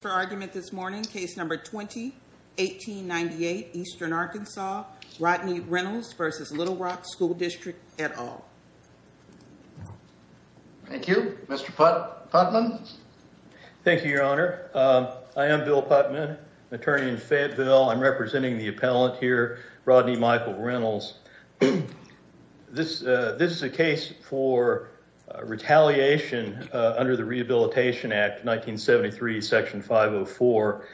for argument this morning. Case number 2018 98 Eastern Arkansas Rodney Reynolds versus Little Rock School District at all. Thank you, Mr Putman. Thank you, Your Honor. I am Bill Putman, attorney in Fayetteville. I'm representing the appellate here, Rodney Michael Reynolds. This this is a case for retaliation under the Rehabilitation Act 1973 section 504.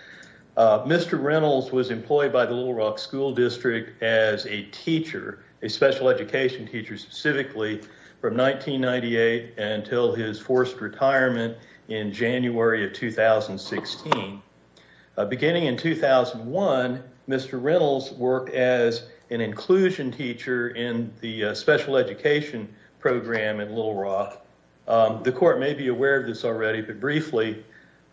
Mr. Reynolds was employed by the Little Rock School District as a teacher, a special education teacher specifically, from 1998 until his forced retirement in the special education program in Little Rock. The court may be aware of this already, but briefly,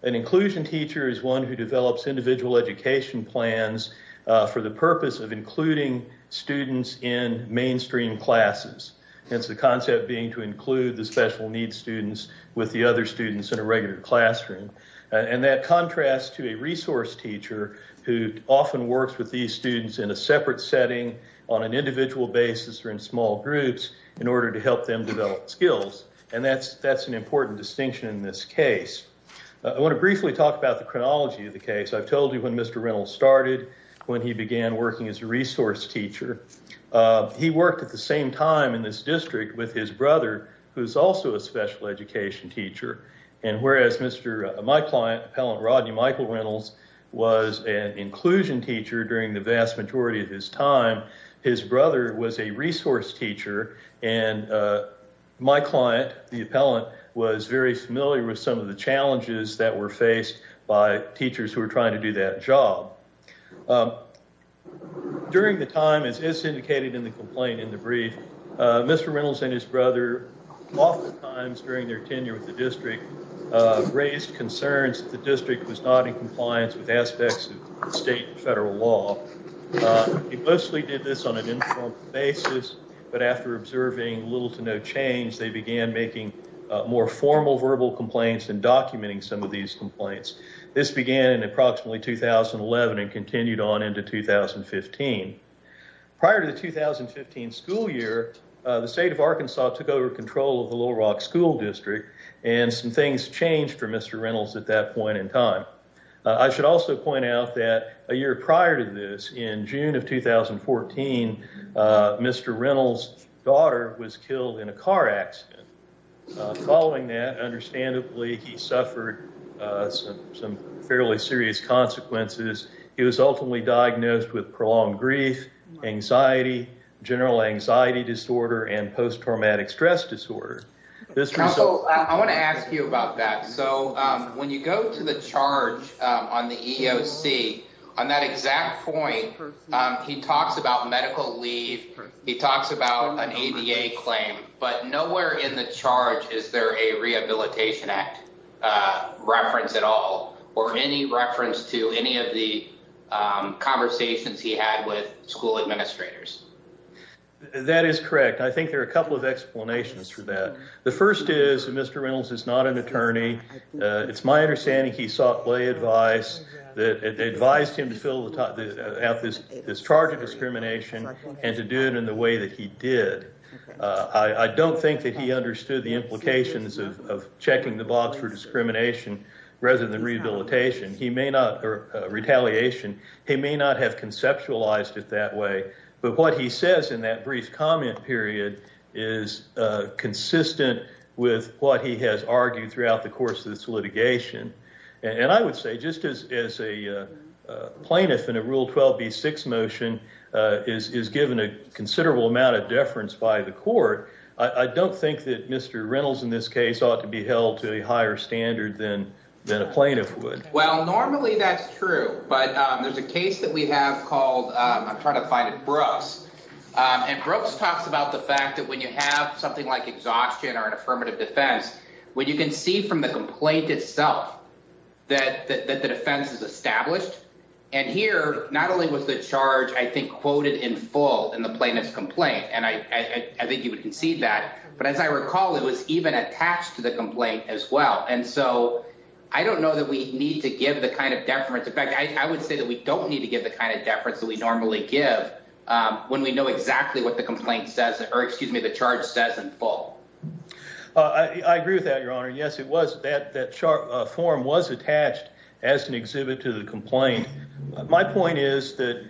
an inclusion teacher is one who develops individual education plans for the purpose of including students in mainstream classes. Hence the concept being to include the special needs students with the other students in a regular classroom. And that contrasts to a resource teacher who often works with these students in a separate setting on an individual basis or in small groups in order to help them develop skills. And that's that's an important distinction in this case. I want to briefly talk about the chronology of the case. I've told you when Mr. Reynolds started, when he began working as a resource teacher, he worked at the same time in this district with his brother who's also a special education teacher. And whereas Mr. my client Rodney Michael Reynolds was an inclusion teacher during the vast majority of his time, his brother was a resource teacher. And my client, the appellant, was very familiar with some of the challenges that were faced by teachers who were trying to do that job. During the time, as is indicated in the complaint in the brief, Mr. Reynolds and his brother oftentimes during their tenure with the district was not in compliance with aspects of state and federal law. He mostly did this on an informal basis, but after observing little to no change, they began making more formal verbal complaints and documenting some of these complaints. This began in approximately 2011 and continued on into 2015. Prior to the 2015 school year, the state of Arkansas took over control of the Little Rock District and some things changed for Mr. Reynolds at that point in time. I should also point out that a year prior to this, in June of 2014, Mr. Reynolds' daughter was killed in a car accident. Following that, understandably, he suffered some fairly serious consequences. He was ultimately diagnosed with prolonged grief, anxiety, general anxiety disorder, and post-traumatic stress disorder. I want to ask you about that. So when you go to the charge on the EEOC, on that exact point, he talks about medical leave, he talks about an ADA claim, but nowhere in the charge is there a Rehabilitation Act reference at all or any reference to any of the conversations he had with school administrators. That is correct. I think there are a couple of explanations for that. The first is that Mr. Reynolds is not an attorney. It's my understanding he sought lay advice that advised him to fill out this charge of discrimination and to do it in the way that he did. I don't think that he understood the implications of checking the box for discrimination rather than retaliation. He may not have conceptualized it that way, but what he says in that brief comment period is consistent with what he has argued throughout the course of this litigation. I would say just as a plaintiff in a Rule 12b-6 motion is given a considerable amount of deference by the court, I don't think that Mr. Reynolds in this case ought to be held to a higher standard than a plaintiff would. Well, normally that's true, but there's a case that we have called, I'm trying to affirmative defense, where you can see from the complaint itself that the defense is established, and here not only was the charge I think quoted in full in the plaintiff's complaint, and I think you can see that, but as I recall it was even attached to the complaint as well, and so I don't know that we need to give the kind of deference. In fact, I would say that we don't need to give the kind of deference that we normally give when we know exactly what the complaint says or excuse me, the charge says in full. I agree with that, Your Honor. Yes, it was that that form was attached as an exhibit to the complaint. My point is that,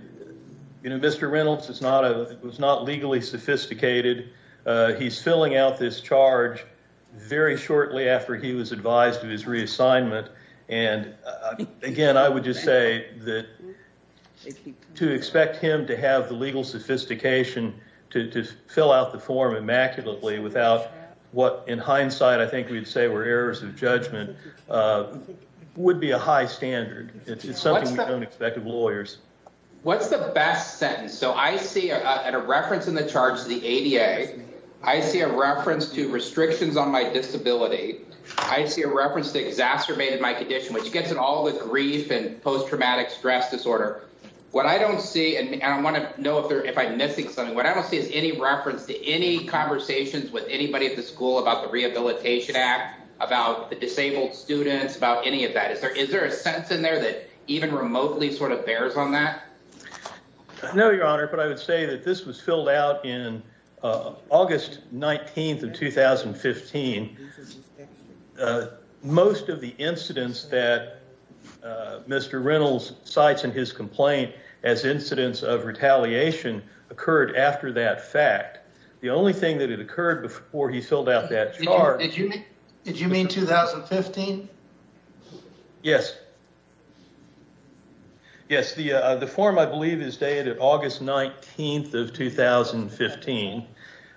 you know, Mr. Reynolds was not legally sophisticated. He's filling out this charge very shortly after he was advised of his reassignment, and again, I would just say that to expect him to have the legal sophistication to fill out the form immaculately without what, in hindsight, I think we'd say were errors of judgment, would be a high standard. It's something we don't expect of lawyers. What's the best sentence? So I see at a reference in the charge to the ADA, I see a reference to restrictions on my disability. I see a reference to exacerbated my condition, which gets in all the grief and post-traumatic stress disorder. What I don't see, and I want to know if I'm missing something, what I reference to any conversations with anybody at the school about the Rehabilitation Act, about the disabled students, about any of that? Is there a sense in there that even remotely sort of bears on that? No, Your Honor, but I would say that this was filled out in August 19th of 2015. Most of the incidents that Mr. Reynolds cites in his complaint as incidents of retaliation occurred after that fact. The only thing that had occurred before he filled out that charge... Did you mean 2015? Yes. Yes, the the form I believe is dated August 19th of 2015,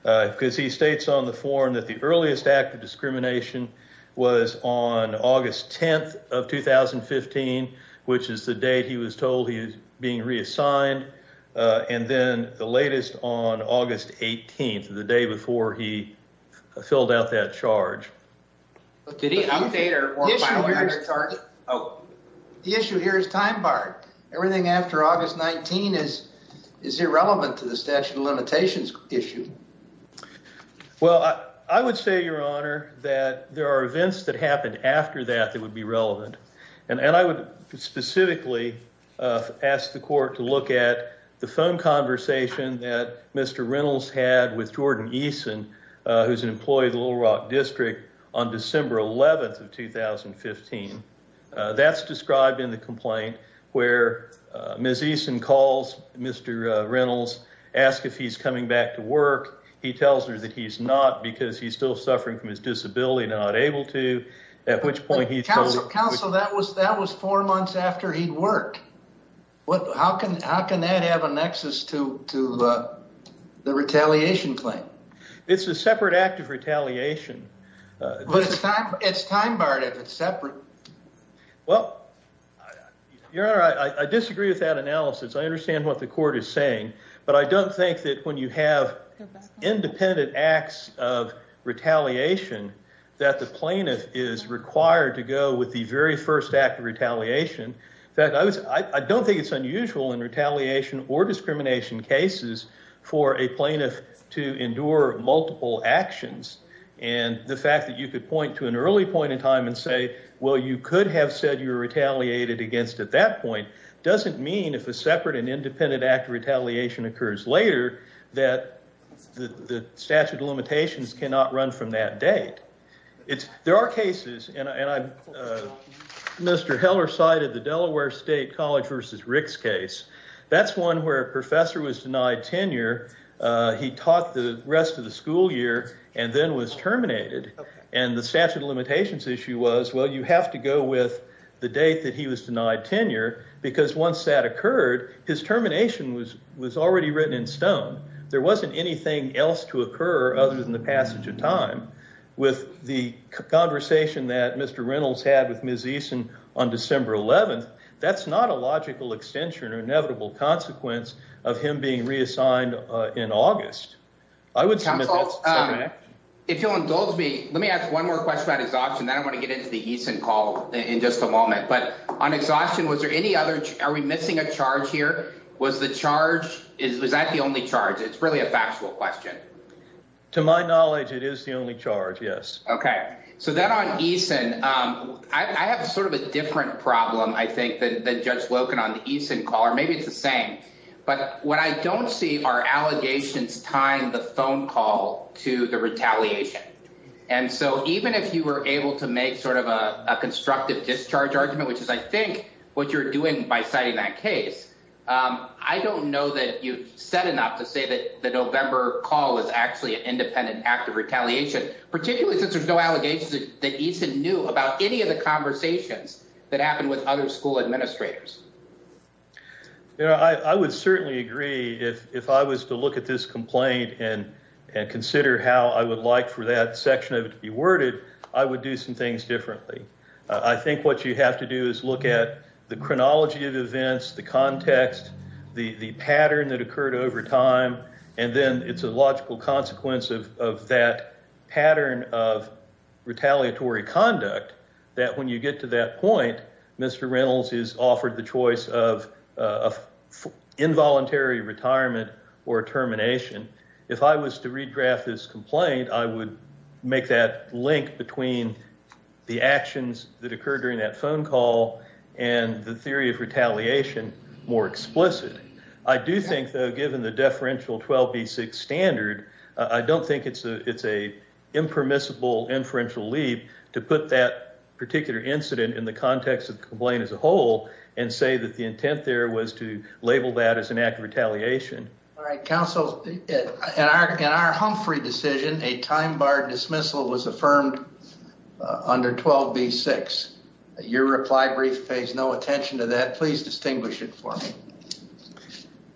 because he states on the form that the earliest act of discrimination was on August 10th of 2015, which is the date he was told he was going to be charged. And then the latest on August 18th, the day before he filled out that charge. The issue here is time-barred. Everything after August 19th is irrelevant to the statute of limitations issue. Well, I would say, Your Honor, that there are events that happened after that that would be relevant, and I would specifically ask the court to look at the phone conversation that Mr. Reynolds had with Jordan Eason, who's an employee of the Little Rock District, on December 11th of 2015. That's described in the complaint where Ms. Eason calls Mr. Reynolds, asks if he's coming back to work. He tells her that he's not because he's still suffering from his disability, not able to, at which point he tells... Counsel, that was four months after he'd worked. How can that have a nexus to the retaliation claim? It's a separate act of retaliation. But it's time-barred if it's separate. Well, Your Honor, I disagree with that analysis. I understand what the court is saying, but I don't think that when you have independent acts of retaliation that the I don't think it's unusual in retaliation or discrimination cases for a plaintiff to endure multiple actions, and the fact that you could point to an early point in time and say, well, you could have said you're retaliated against at that point, doesn't mean if a separate and independent act of retaliation occurs later that the statute of limitations cannot run from that date. There are cases, and Mr. Heller cited the Delaware State College versus Rick's case. That's one where a professor was denied tenure. He taught the rest of the school year and then was terminated, and the statute of limitations issue was, well, you have to go with the date that he was denied tenure because once that occurred, his termination was already written in time with the conversation that Mr. Reynolds had with Ms. Eason on December 11th. That's not a logical extension or inevitable consequence of him being reassigned in August. If you'll indulge me, let me ask one more question about exhaustion. Then I want to get into the Eason call in just a moment. But on exhaustion, was there any other? Are we missing a charge here? Was the charge? Is that the only charge? It's really a factual question. To my knowledge, it is the only charge. Yes. Okay. So then on Eason, I have sort of a different problem, I think, than Judge Loken on the Eason call, or maybe it's the same. But what I don't see are allegations tying the phone call to the retaliation. And so even if you were able to make sort of a constructive discharge argument, which is, I think, what you're doing by citing that case, I don't know that you've said enough to say that the November call was actually an act of retaliation, particularly since there's no allegations that Eason knew about any of the conversations that happened with other school administrators. I would certainly agree if I was to look at this complaint and consider how I would like for that section of it to be worded, I would do some things differently. I think what you have to do is look at the chronology of events, the context, the pattern that occurred over time. And then it's a logical consequence of that pattern of retaliatory conduct, that when you get to that point, Mr. Reynolds is offered the choice of involuntary retirement or termination. If I was to redraft this complaint, I would make that link between the actions that occurred during that phone call and the theory of retaliation more explicit. I do think, though, given the deferential 12B6 standard, I don't think it's a impermissible inferential leap to put that particular incident in the context of the complaint as a whole and say that the intent there was to label that as an act of retaliation. All right, counsel, in our Humphrey decision, a time-barred dismissal was affirmed under 12B6. Your reply brief pays no attention to that. Please distinguish it for me.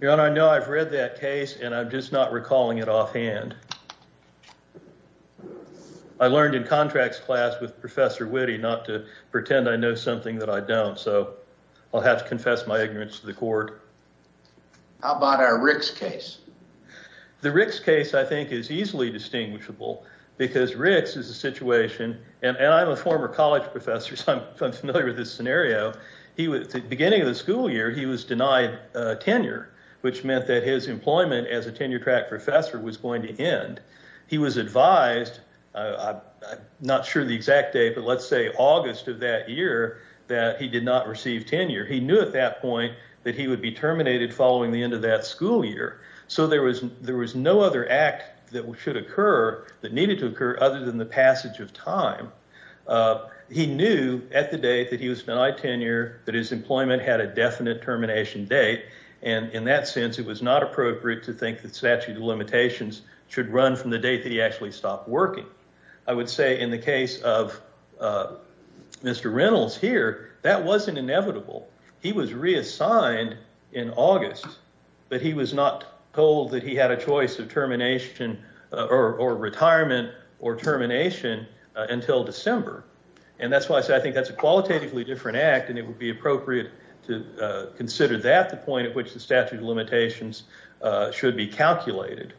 Your Honor, I know I've read that case, and I'm just not recalling it offhand. I learned in contracts class with Professor Witte not to pretend I know something that I don't, so I'll have to confess my ignorance to the court. How about our Ricks case? The Ricks case, I think, is easily distinguishable because Ricks is a situation, and I'm a former college professor, so I'm familiar with this which meant that his employment as a tenure-track professor was going to end. He was advised, I'm not sure the exact date, but let's say August of that year, that he did not receive tenure. He knew at that point that he would be terminated following the end of that school year, so there was no other act that should occur that needed to occur other than the passage of time. He knew at the date that he was denied tenure that his employment had a termination, and in that sense, it was not appropriate to think that statute of limitations should run from the date that he actually stopped working. I would say in the case of Mr. Reynolds here, that wasn't inevitable. He was reassigned in August, but he was not told that he had a choice of termination or retirement or termination until December, and that's why I say I think that's a qualitatively different act and it would be appropriate to consider that the point at which the statute of limitations should be calculated.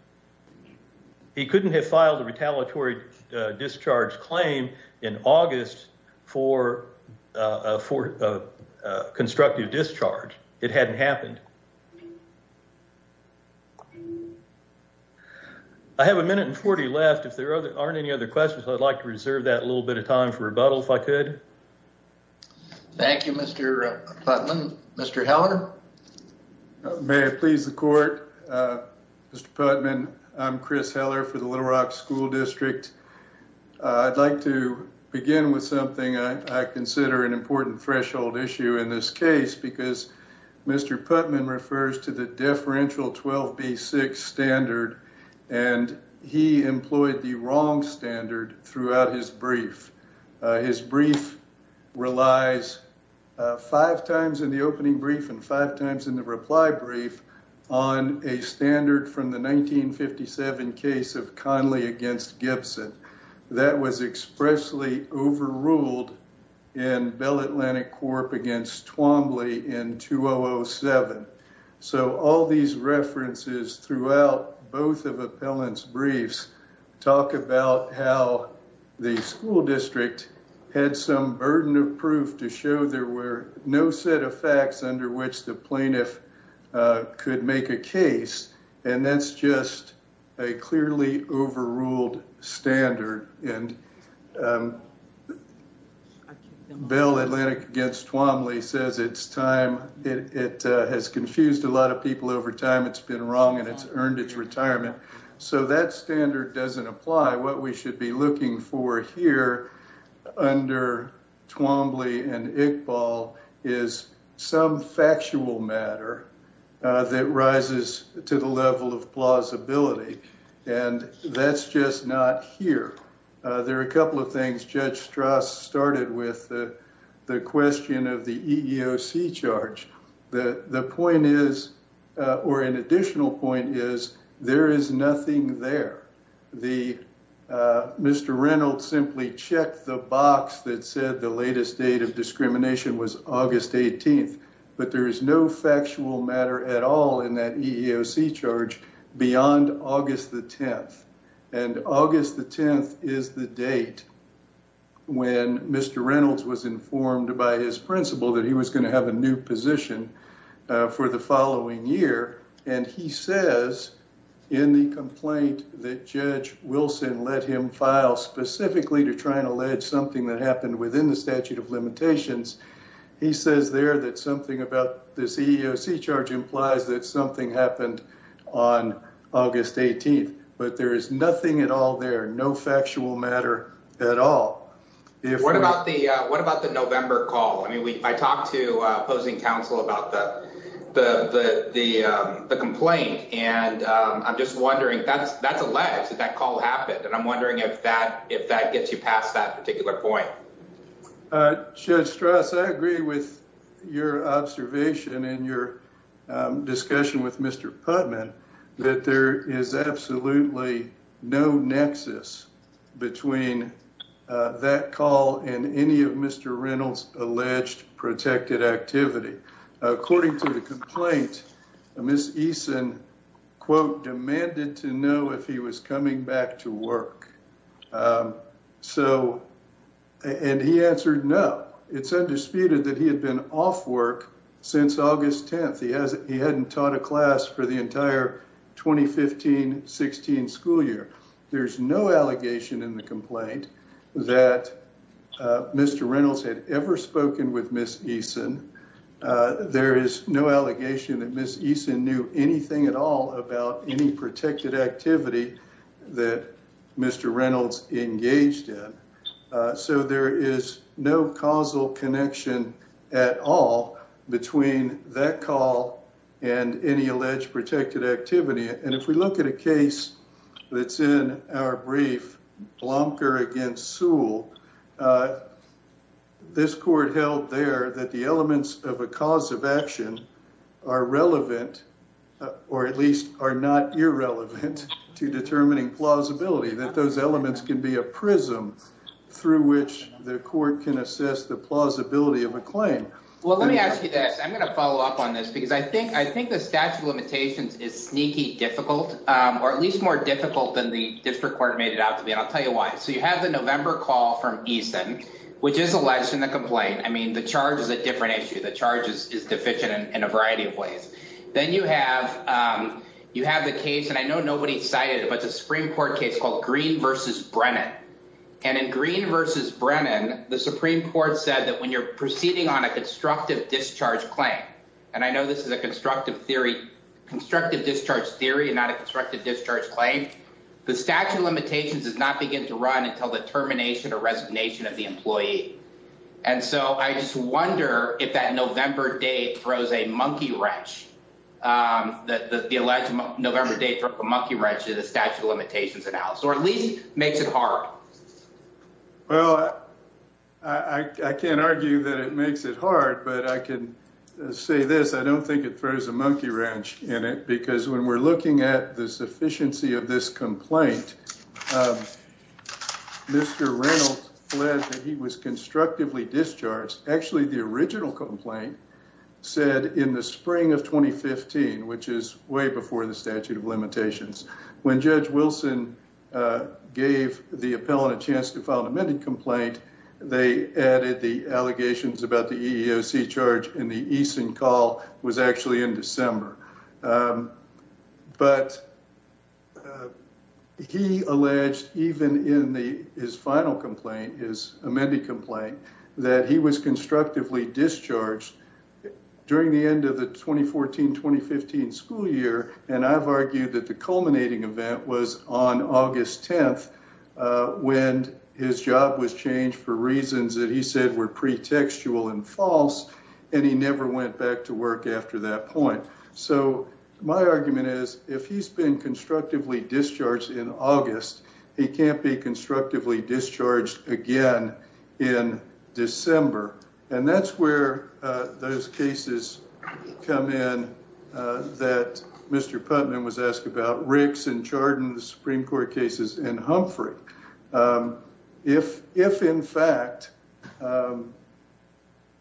He couldn't have filed a retaliatory discharge claim in August for a constructive discharge, it hadn't happened. I have a minute and 40 left. If there aren't any other questions, I'd like to reserve that a little bit of time for rebuttal, if I could. Thank you, Mr. Hallener. May it please the court, Mr. Putman, I'm Chris Heller for the Little Rock School District. I'd like to begin with something I consider an important threshold issue in this case because Mr. Putman refers to the deferential 12B6 standard, and he employed the wrong standard throughout his brief. His brief relies five times in the opening brief and five times in the reply brief on a standard from the 1957 case of Conley against Gibson that was expressly overruled in Bell Atlantic Corp against Twombly in 2007. So all these references throughout both of Appellant's briefs talk about how the school district had some burden of proof to show there were no set of facts under which the plaintiff could make a case, and that's just a clearly overruled standard, and Bell Atlantic against Twombly says it's time, it has confused a lot of people over time, it's been wrong, and it's earned its place here under Twombly and Iqbal is some factual matter that rises to the level of plausibility, and that's just not here. There are a couple of things Judge Strass started with, the question of the EEOC charge, the point is, or an additional point is, there is nothing there. Mr. Reynolds simply checked the box that said the latest date of discrimination was August 18th, but there is no factual matter at all in that EEOC charge beyond August the 10th, and August the 10th is the date when Mr. Reynolds was informed by his principal that he was going to have a new position for the following year, and he says in the complaint that Judge Wilson let him file specifically to try and allege something that happened within the statute of limitations, he says there that something about this EEOC charge implies that something happened on August 18th, but there is nothing at all there, no factual matter at all. What about the November call? I talked to opposing counsel about the complaint, and I'm just wondering, that's alleged that that call happened, and I'm wondering if that gets you past that particular point. Judge Strass, I agree with your observation and your discussion with Mr. Putnam that there is absolutely no nexus between that call and any of Mr. Reynolds' alleged protected activity. According to the complaint, Ms. Eason, quote, demanded to know if he was coming back to work, and he answered no. It's undisputed that he had been off work since August 10th. He hadn't taught a class for the entire 2015-16 school year. There's no allegation in the complaint that Mr. Reynolds had ever spoken with Ms. Eason. There is no allegation that Ms. Eason knew anything at all about any protected activity that Mr. Reynolds engaged in, so there is no causal connection at all between that call and any alleged protected activity. And if we look at a case that's in our brief, Blomker against Sewell, this court held there that the elements of a cause of action are relevant, or at least are not irrelevant, to determining plausibility, that those elements can be a prism through which the court can assess the plausibility of a claim. Well, let me ask you this. I'm going to follow up on this, because I think the statute of limitations is sneaky difficult, or at least more difficult than the district court made it out to be, and I'll tell you why. So you have the November call from Eason, which is alleged in the complaint. I mean, the charge is a different issue. The charge is deficient in a variety of ways. Then you have the case, and I know nobody cited it, but it's a Supreme Court case called Green versus Brennan. And in Green versus Brennan, the Supreme Court said that when you're proceeding on a constructive discharge claim, and I know this is a constructive theory, constructive discharge theory and not a constructive discharge claim, the statute of limitations does not begin to run until the termination or resignation of the employee. And so I just wonder if that November date throws a monkey wrench, that the alleged November date threw a monkey wrench in the statute of limitations analysis, or at least makes it hard. Well, I can't argue that it makes it hard, but I can say this. I don't think it throws a monkey wrench in it, because when we're looking at the sufficiency of this complaint, Mr. Reynolds said that he was constructively discharged. Actually, the original complaint said in the spring of 2015, which is way before the statute of limitations, when Judge Wilson gave the appellant a chance to file an amended complaint, they added the allegations about the EEOC charge in the Easton call was actually in December. But he alleged, even in his final complaint, his amended complaint, that he was constructively discharged during the end of the 2014-2015 school year. And I've argued that the culminating event was on August 10th when his job was changed for reasons that he said were pretextual and false. And he never went back to work after that point. So my argument is, if he's been constructively discharged in August, he can't be constructively discharged again in December. And that's where those cases come in that Mr. Riggs was charged in the Supreme Court cases in Humphrey. If in fact,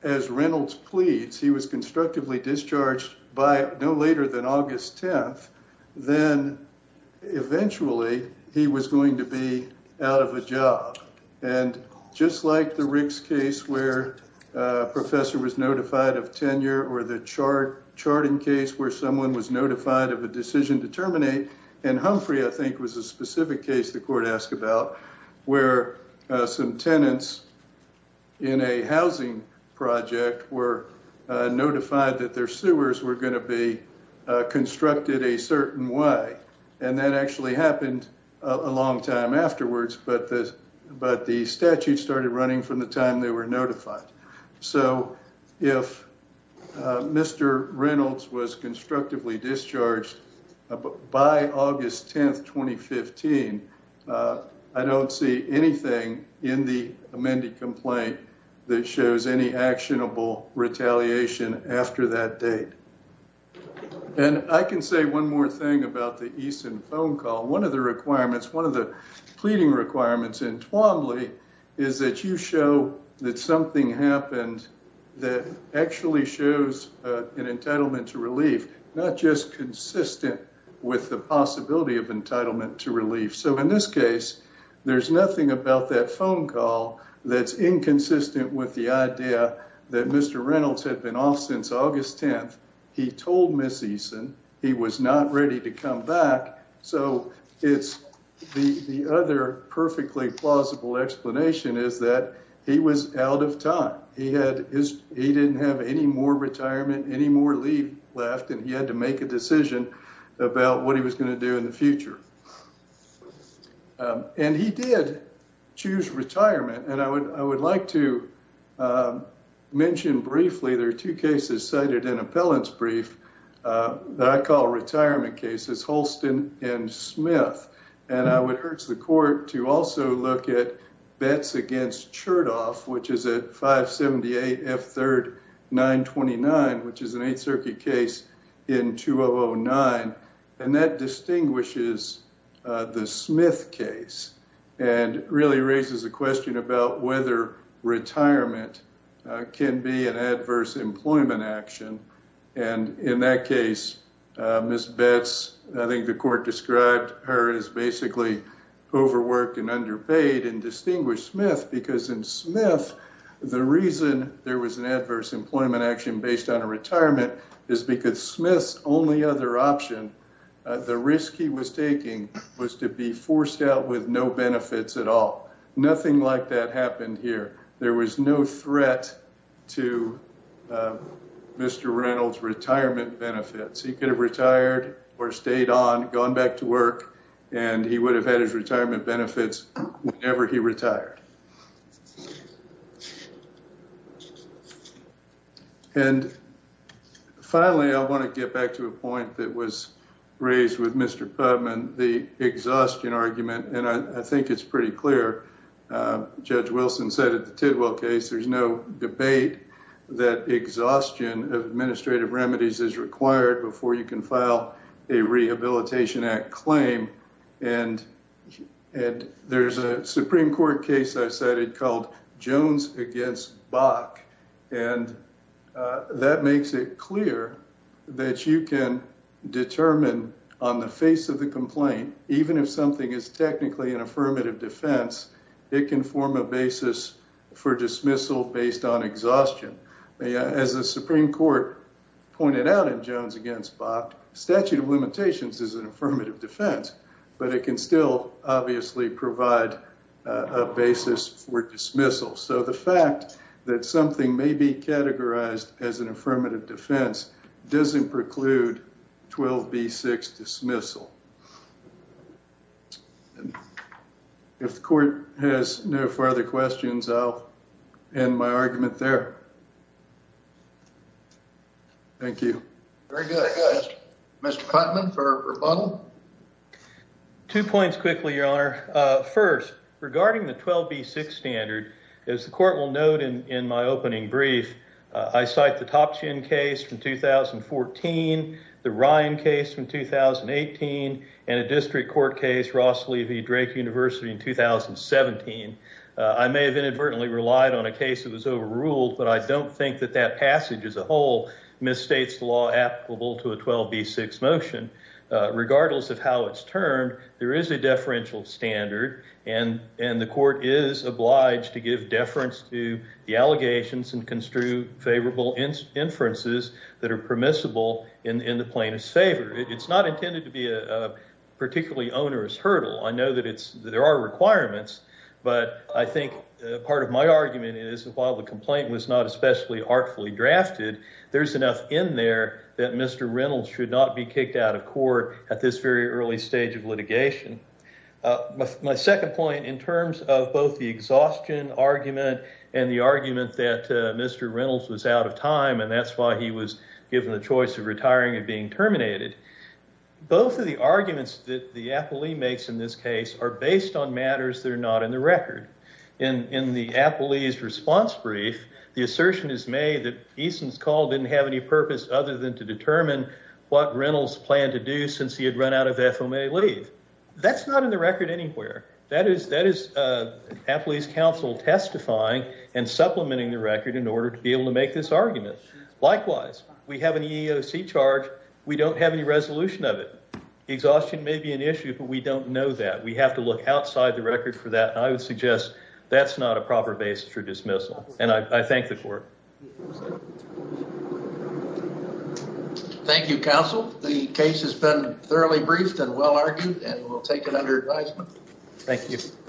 as Reynolds pleads, he was constructively discharged no later than August 10th, then eventually he was going to be out of a job. And just like the Riggs case where a professor was notified of tenure or the charting case where someone was notified of a decision to terminate, in Humphrey, I think, was a specific case the court asked about, where some tenants in a housing project were notified that their sewers were gonna be constructed a certain way. And that actually happened a long time afterwards, but the statute started running from the time they were notified. So if Mr. Reynolds was constructively discharged by August 10th, 2015, I don't see anything in the amended complaint that shows any actionable retaliation after that date. And I can say one more thing about the Eason phone call. One of the requirements, one of the pleading requirements in Twombly is that you show that something happened that actually shows an entitlement to relief, not just consistent with the possibility of entitlement to relief. So in this case, there's nothing about that phone call that's inconsistent with the idea that Mr. Reynolds had been off since August 10th. He told Ms. Eason he was not ready to come back. So it's the other perfectly plausible explanation is that he was out of time. He didn't have any more retirement, any more leave left, and he had to make a decision about what he was gonna do in the future. And he did choose retirement, and I would like to mention briefly, there are two cases cited in appellant's brief that I call retirement cases, Holston and Smith. And I would urge the court to also look at bets against Chertoff, which is at 578 F3rd 929, which is an eight circuit case in 2009. And that distinguishes the Smith case and really raises the question about whether retirement can be an adverse employment action. And in that case, Ms. Betts, I think the court described her as basically overworked and underpaid and distinguished Smith because in Smith, the reason there was an adverse employment action based on a retirement is because Smith's only other option, the risk he was taking was to be forced out with no benefits at all. Nothing like that happened here. There was no threat to Mr. Reynolds' retirement benefits. He could have retired or stayed on, gone back to work, and he would have had his retirement benefits whenever he retired. And finally, I wanna get back to a point that was raised with Mr. Pubman, the exhaustion argument, and I think it's pretty clear. Judge Wilson said at the Tidwell case, there's no debate that exhaustion of administrative remedies is required before you can file a Rehabilitation Act claim, and there's a Supreme Court case I cited called Jones against Bach. And that makes it clear that you can determine on the face of the complaint, even if something is technically an affirmative defense, it can form a basis for dismissal based on exhaustion. As the Supreme Court pointed out in Jones against Bach, statute of limitations is an affirmative defense, but it can still obviously provide a basis for dismissal. So the fact that something may be categorized as an affirmative defense doesn't preclude 12B6 dismissal. If the court has no further questions, I'll end my argument there. Thank you. Very good. Mr. Putnam for rebuttal. Two points quickly, Your Honor. First, regarding the 12B6 standard, as the court will note in my opening brief, I cite the Topshin case from 2014, the Ryan case from 2018, and a district court case, Ross Levy, Drake University in 2017. I may have inadvertently relied on a case that was overruled, but I don't think that that passage as a whole misstates law applicable to a 12B6 motion. Regardless of how it's termed, there is a deferential standard, and the court is obliged to give deference to the allegations and construe favorable inferences that are permissible in the plaintiff's favor. It's not intended to be a particularly onerous hurdle. I know that there are requirements, but I think part of my argument is that while the complaint was not especially artfully drafted, there's enough in there that Mr. Reynolds should not be kicked out of court at this very early stage of litigation. My second point, in terms of both the exhaustion argument and the argument that Mr. Reynolds was out of time, and that's why he was given the choice of retiring and being terminated. Both of the arguments that the appellee makes in this case are based on matters that are not in the record. In the appellee's response brief, the assertion is made that Eason's call didn't have any purpose other than to determine what Reynolds planned to do since he had run out of FOMA leave. That's not in the record anywhere. That is appellee's counsel testifying and supplementing the record in order to be able to make this argument. Likewise, we have an EEOC charge, we don't have any resolution of it. Exhaustion may be an issue, but we don't know that. We have to look outside the record for that. I would suggest that's not a proper basis for dismissal. And I thank the court. Thank you, counsel. The case has been thoroughly briefed and well argued, and we'll take it under advisement. Thank you.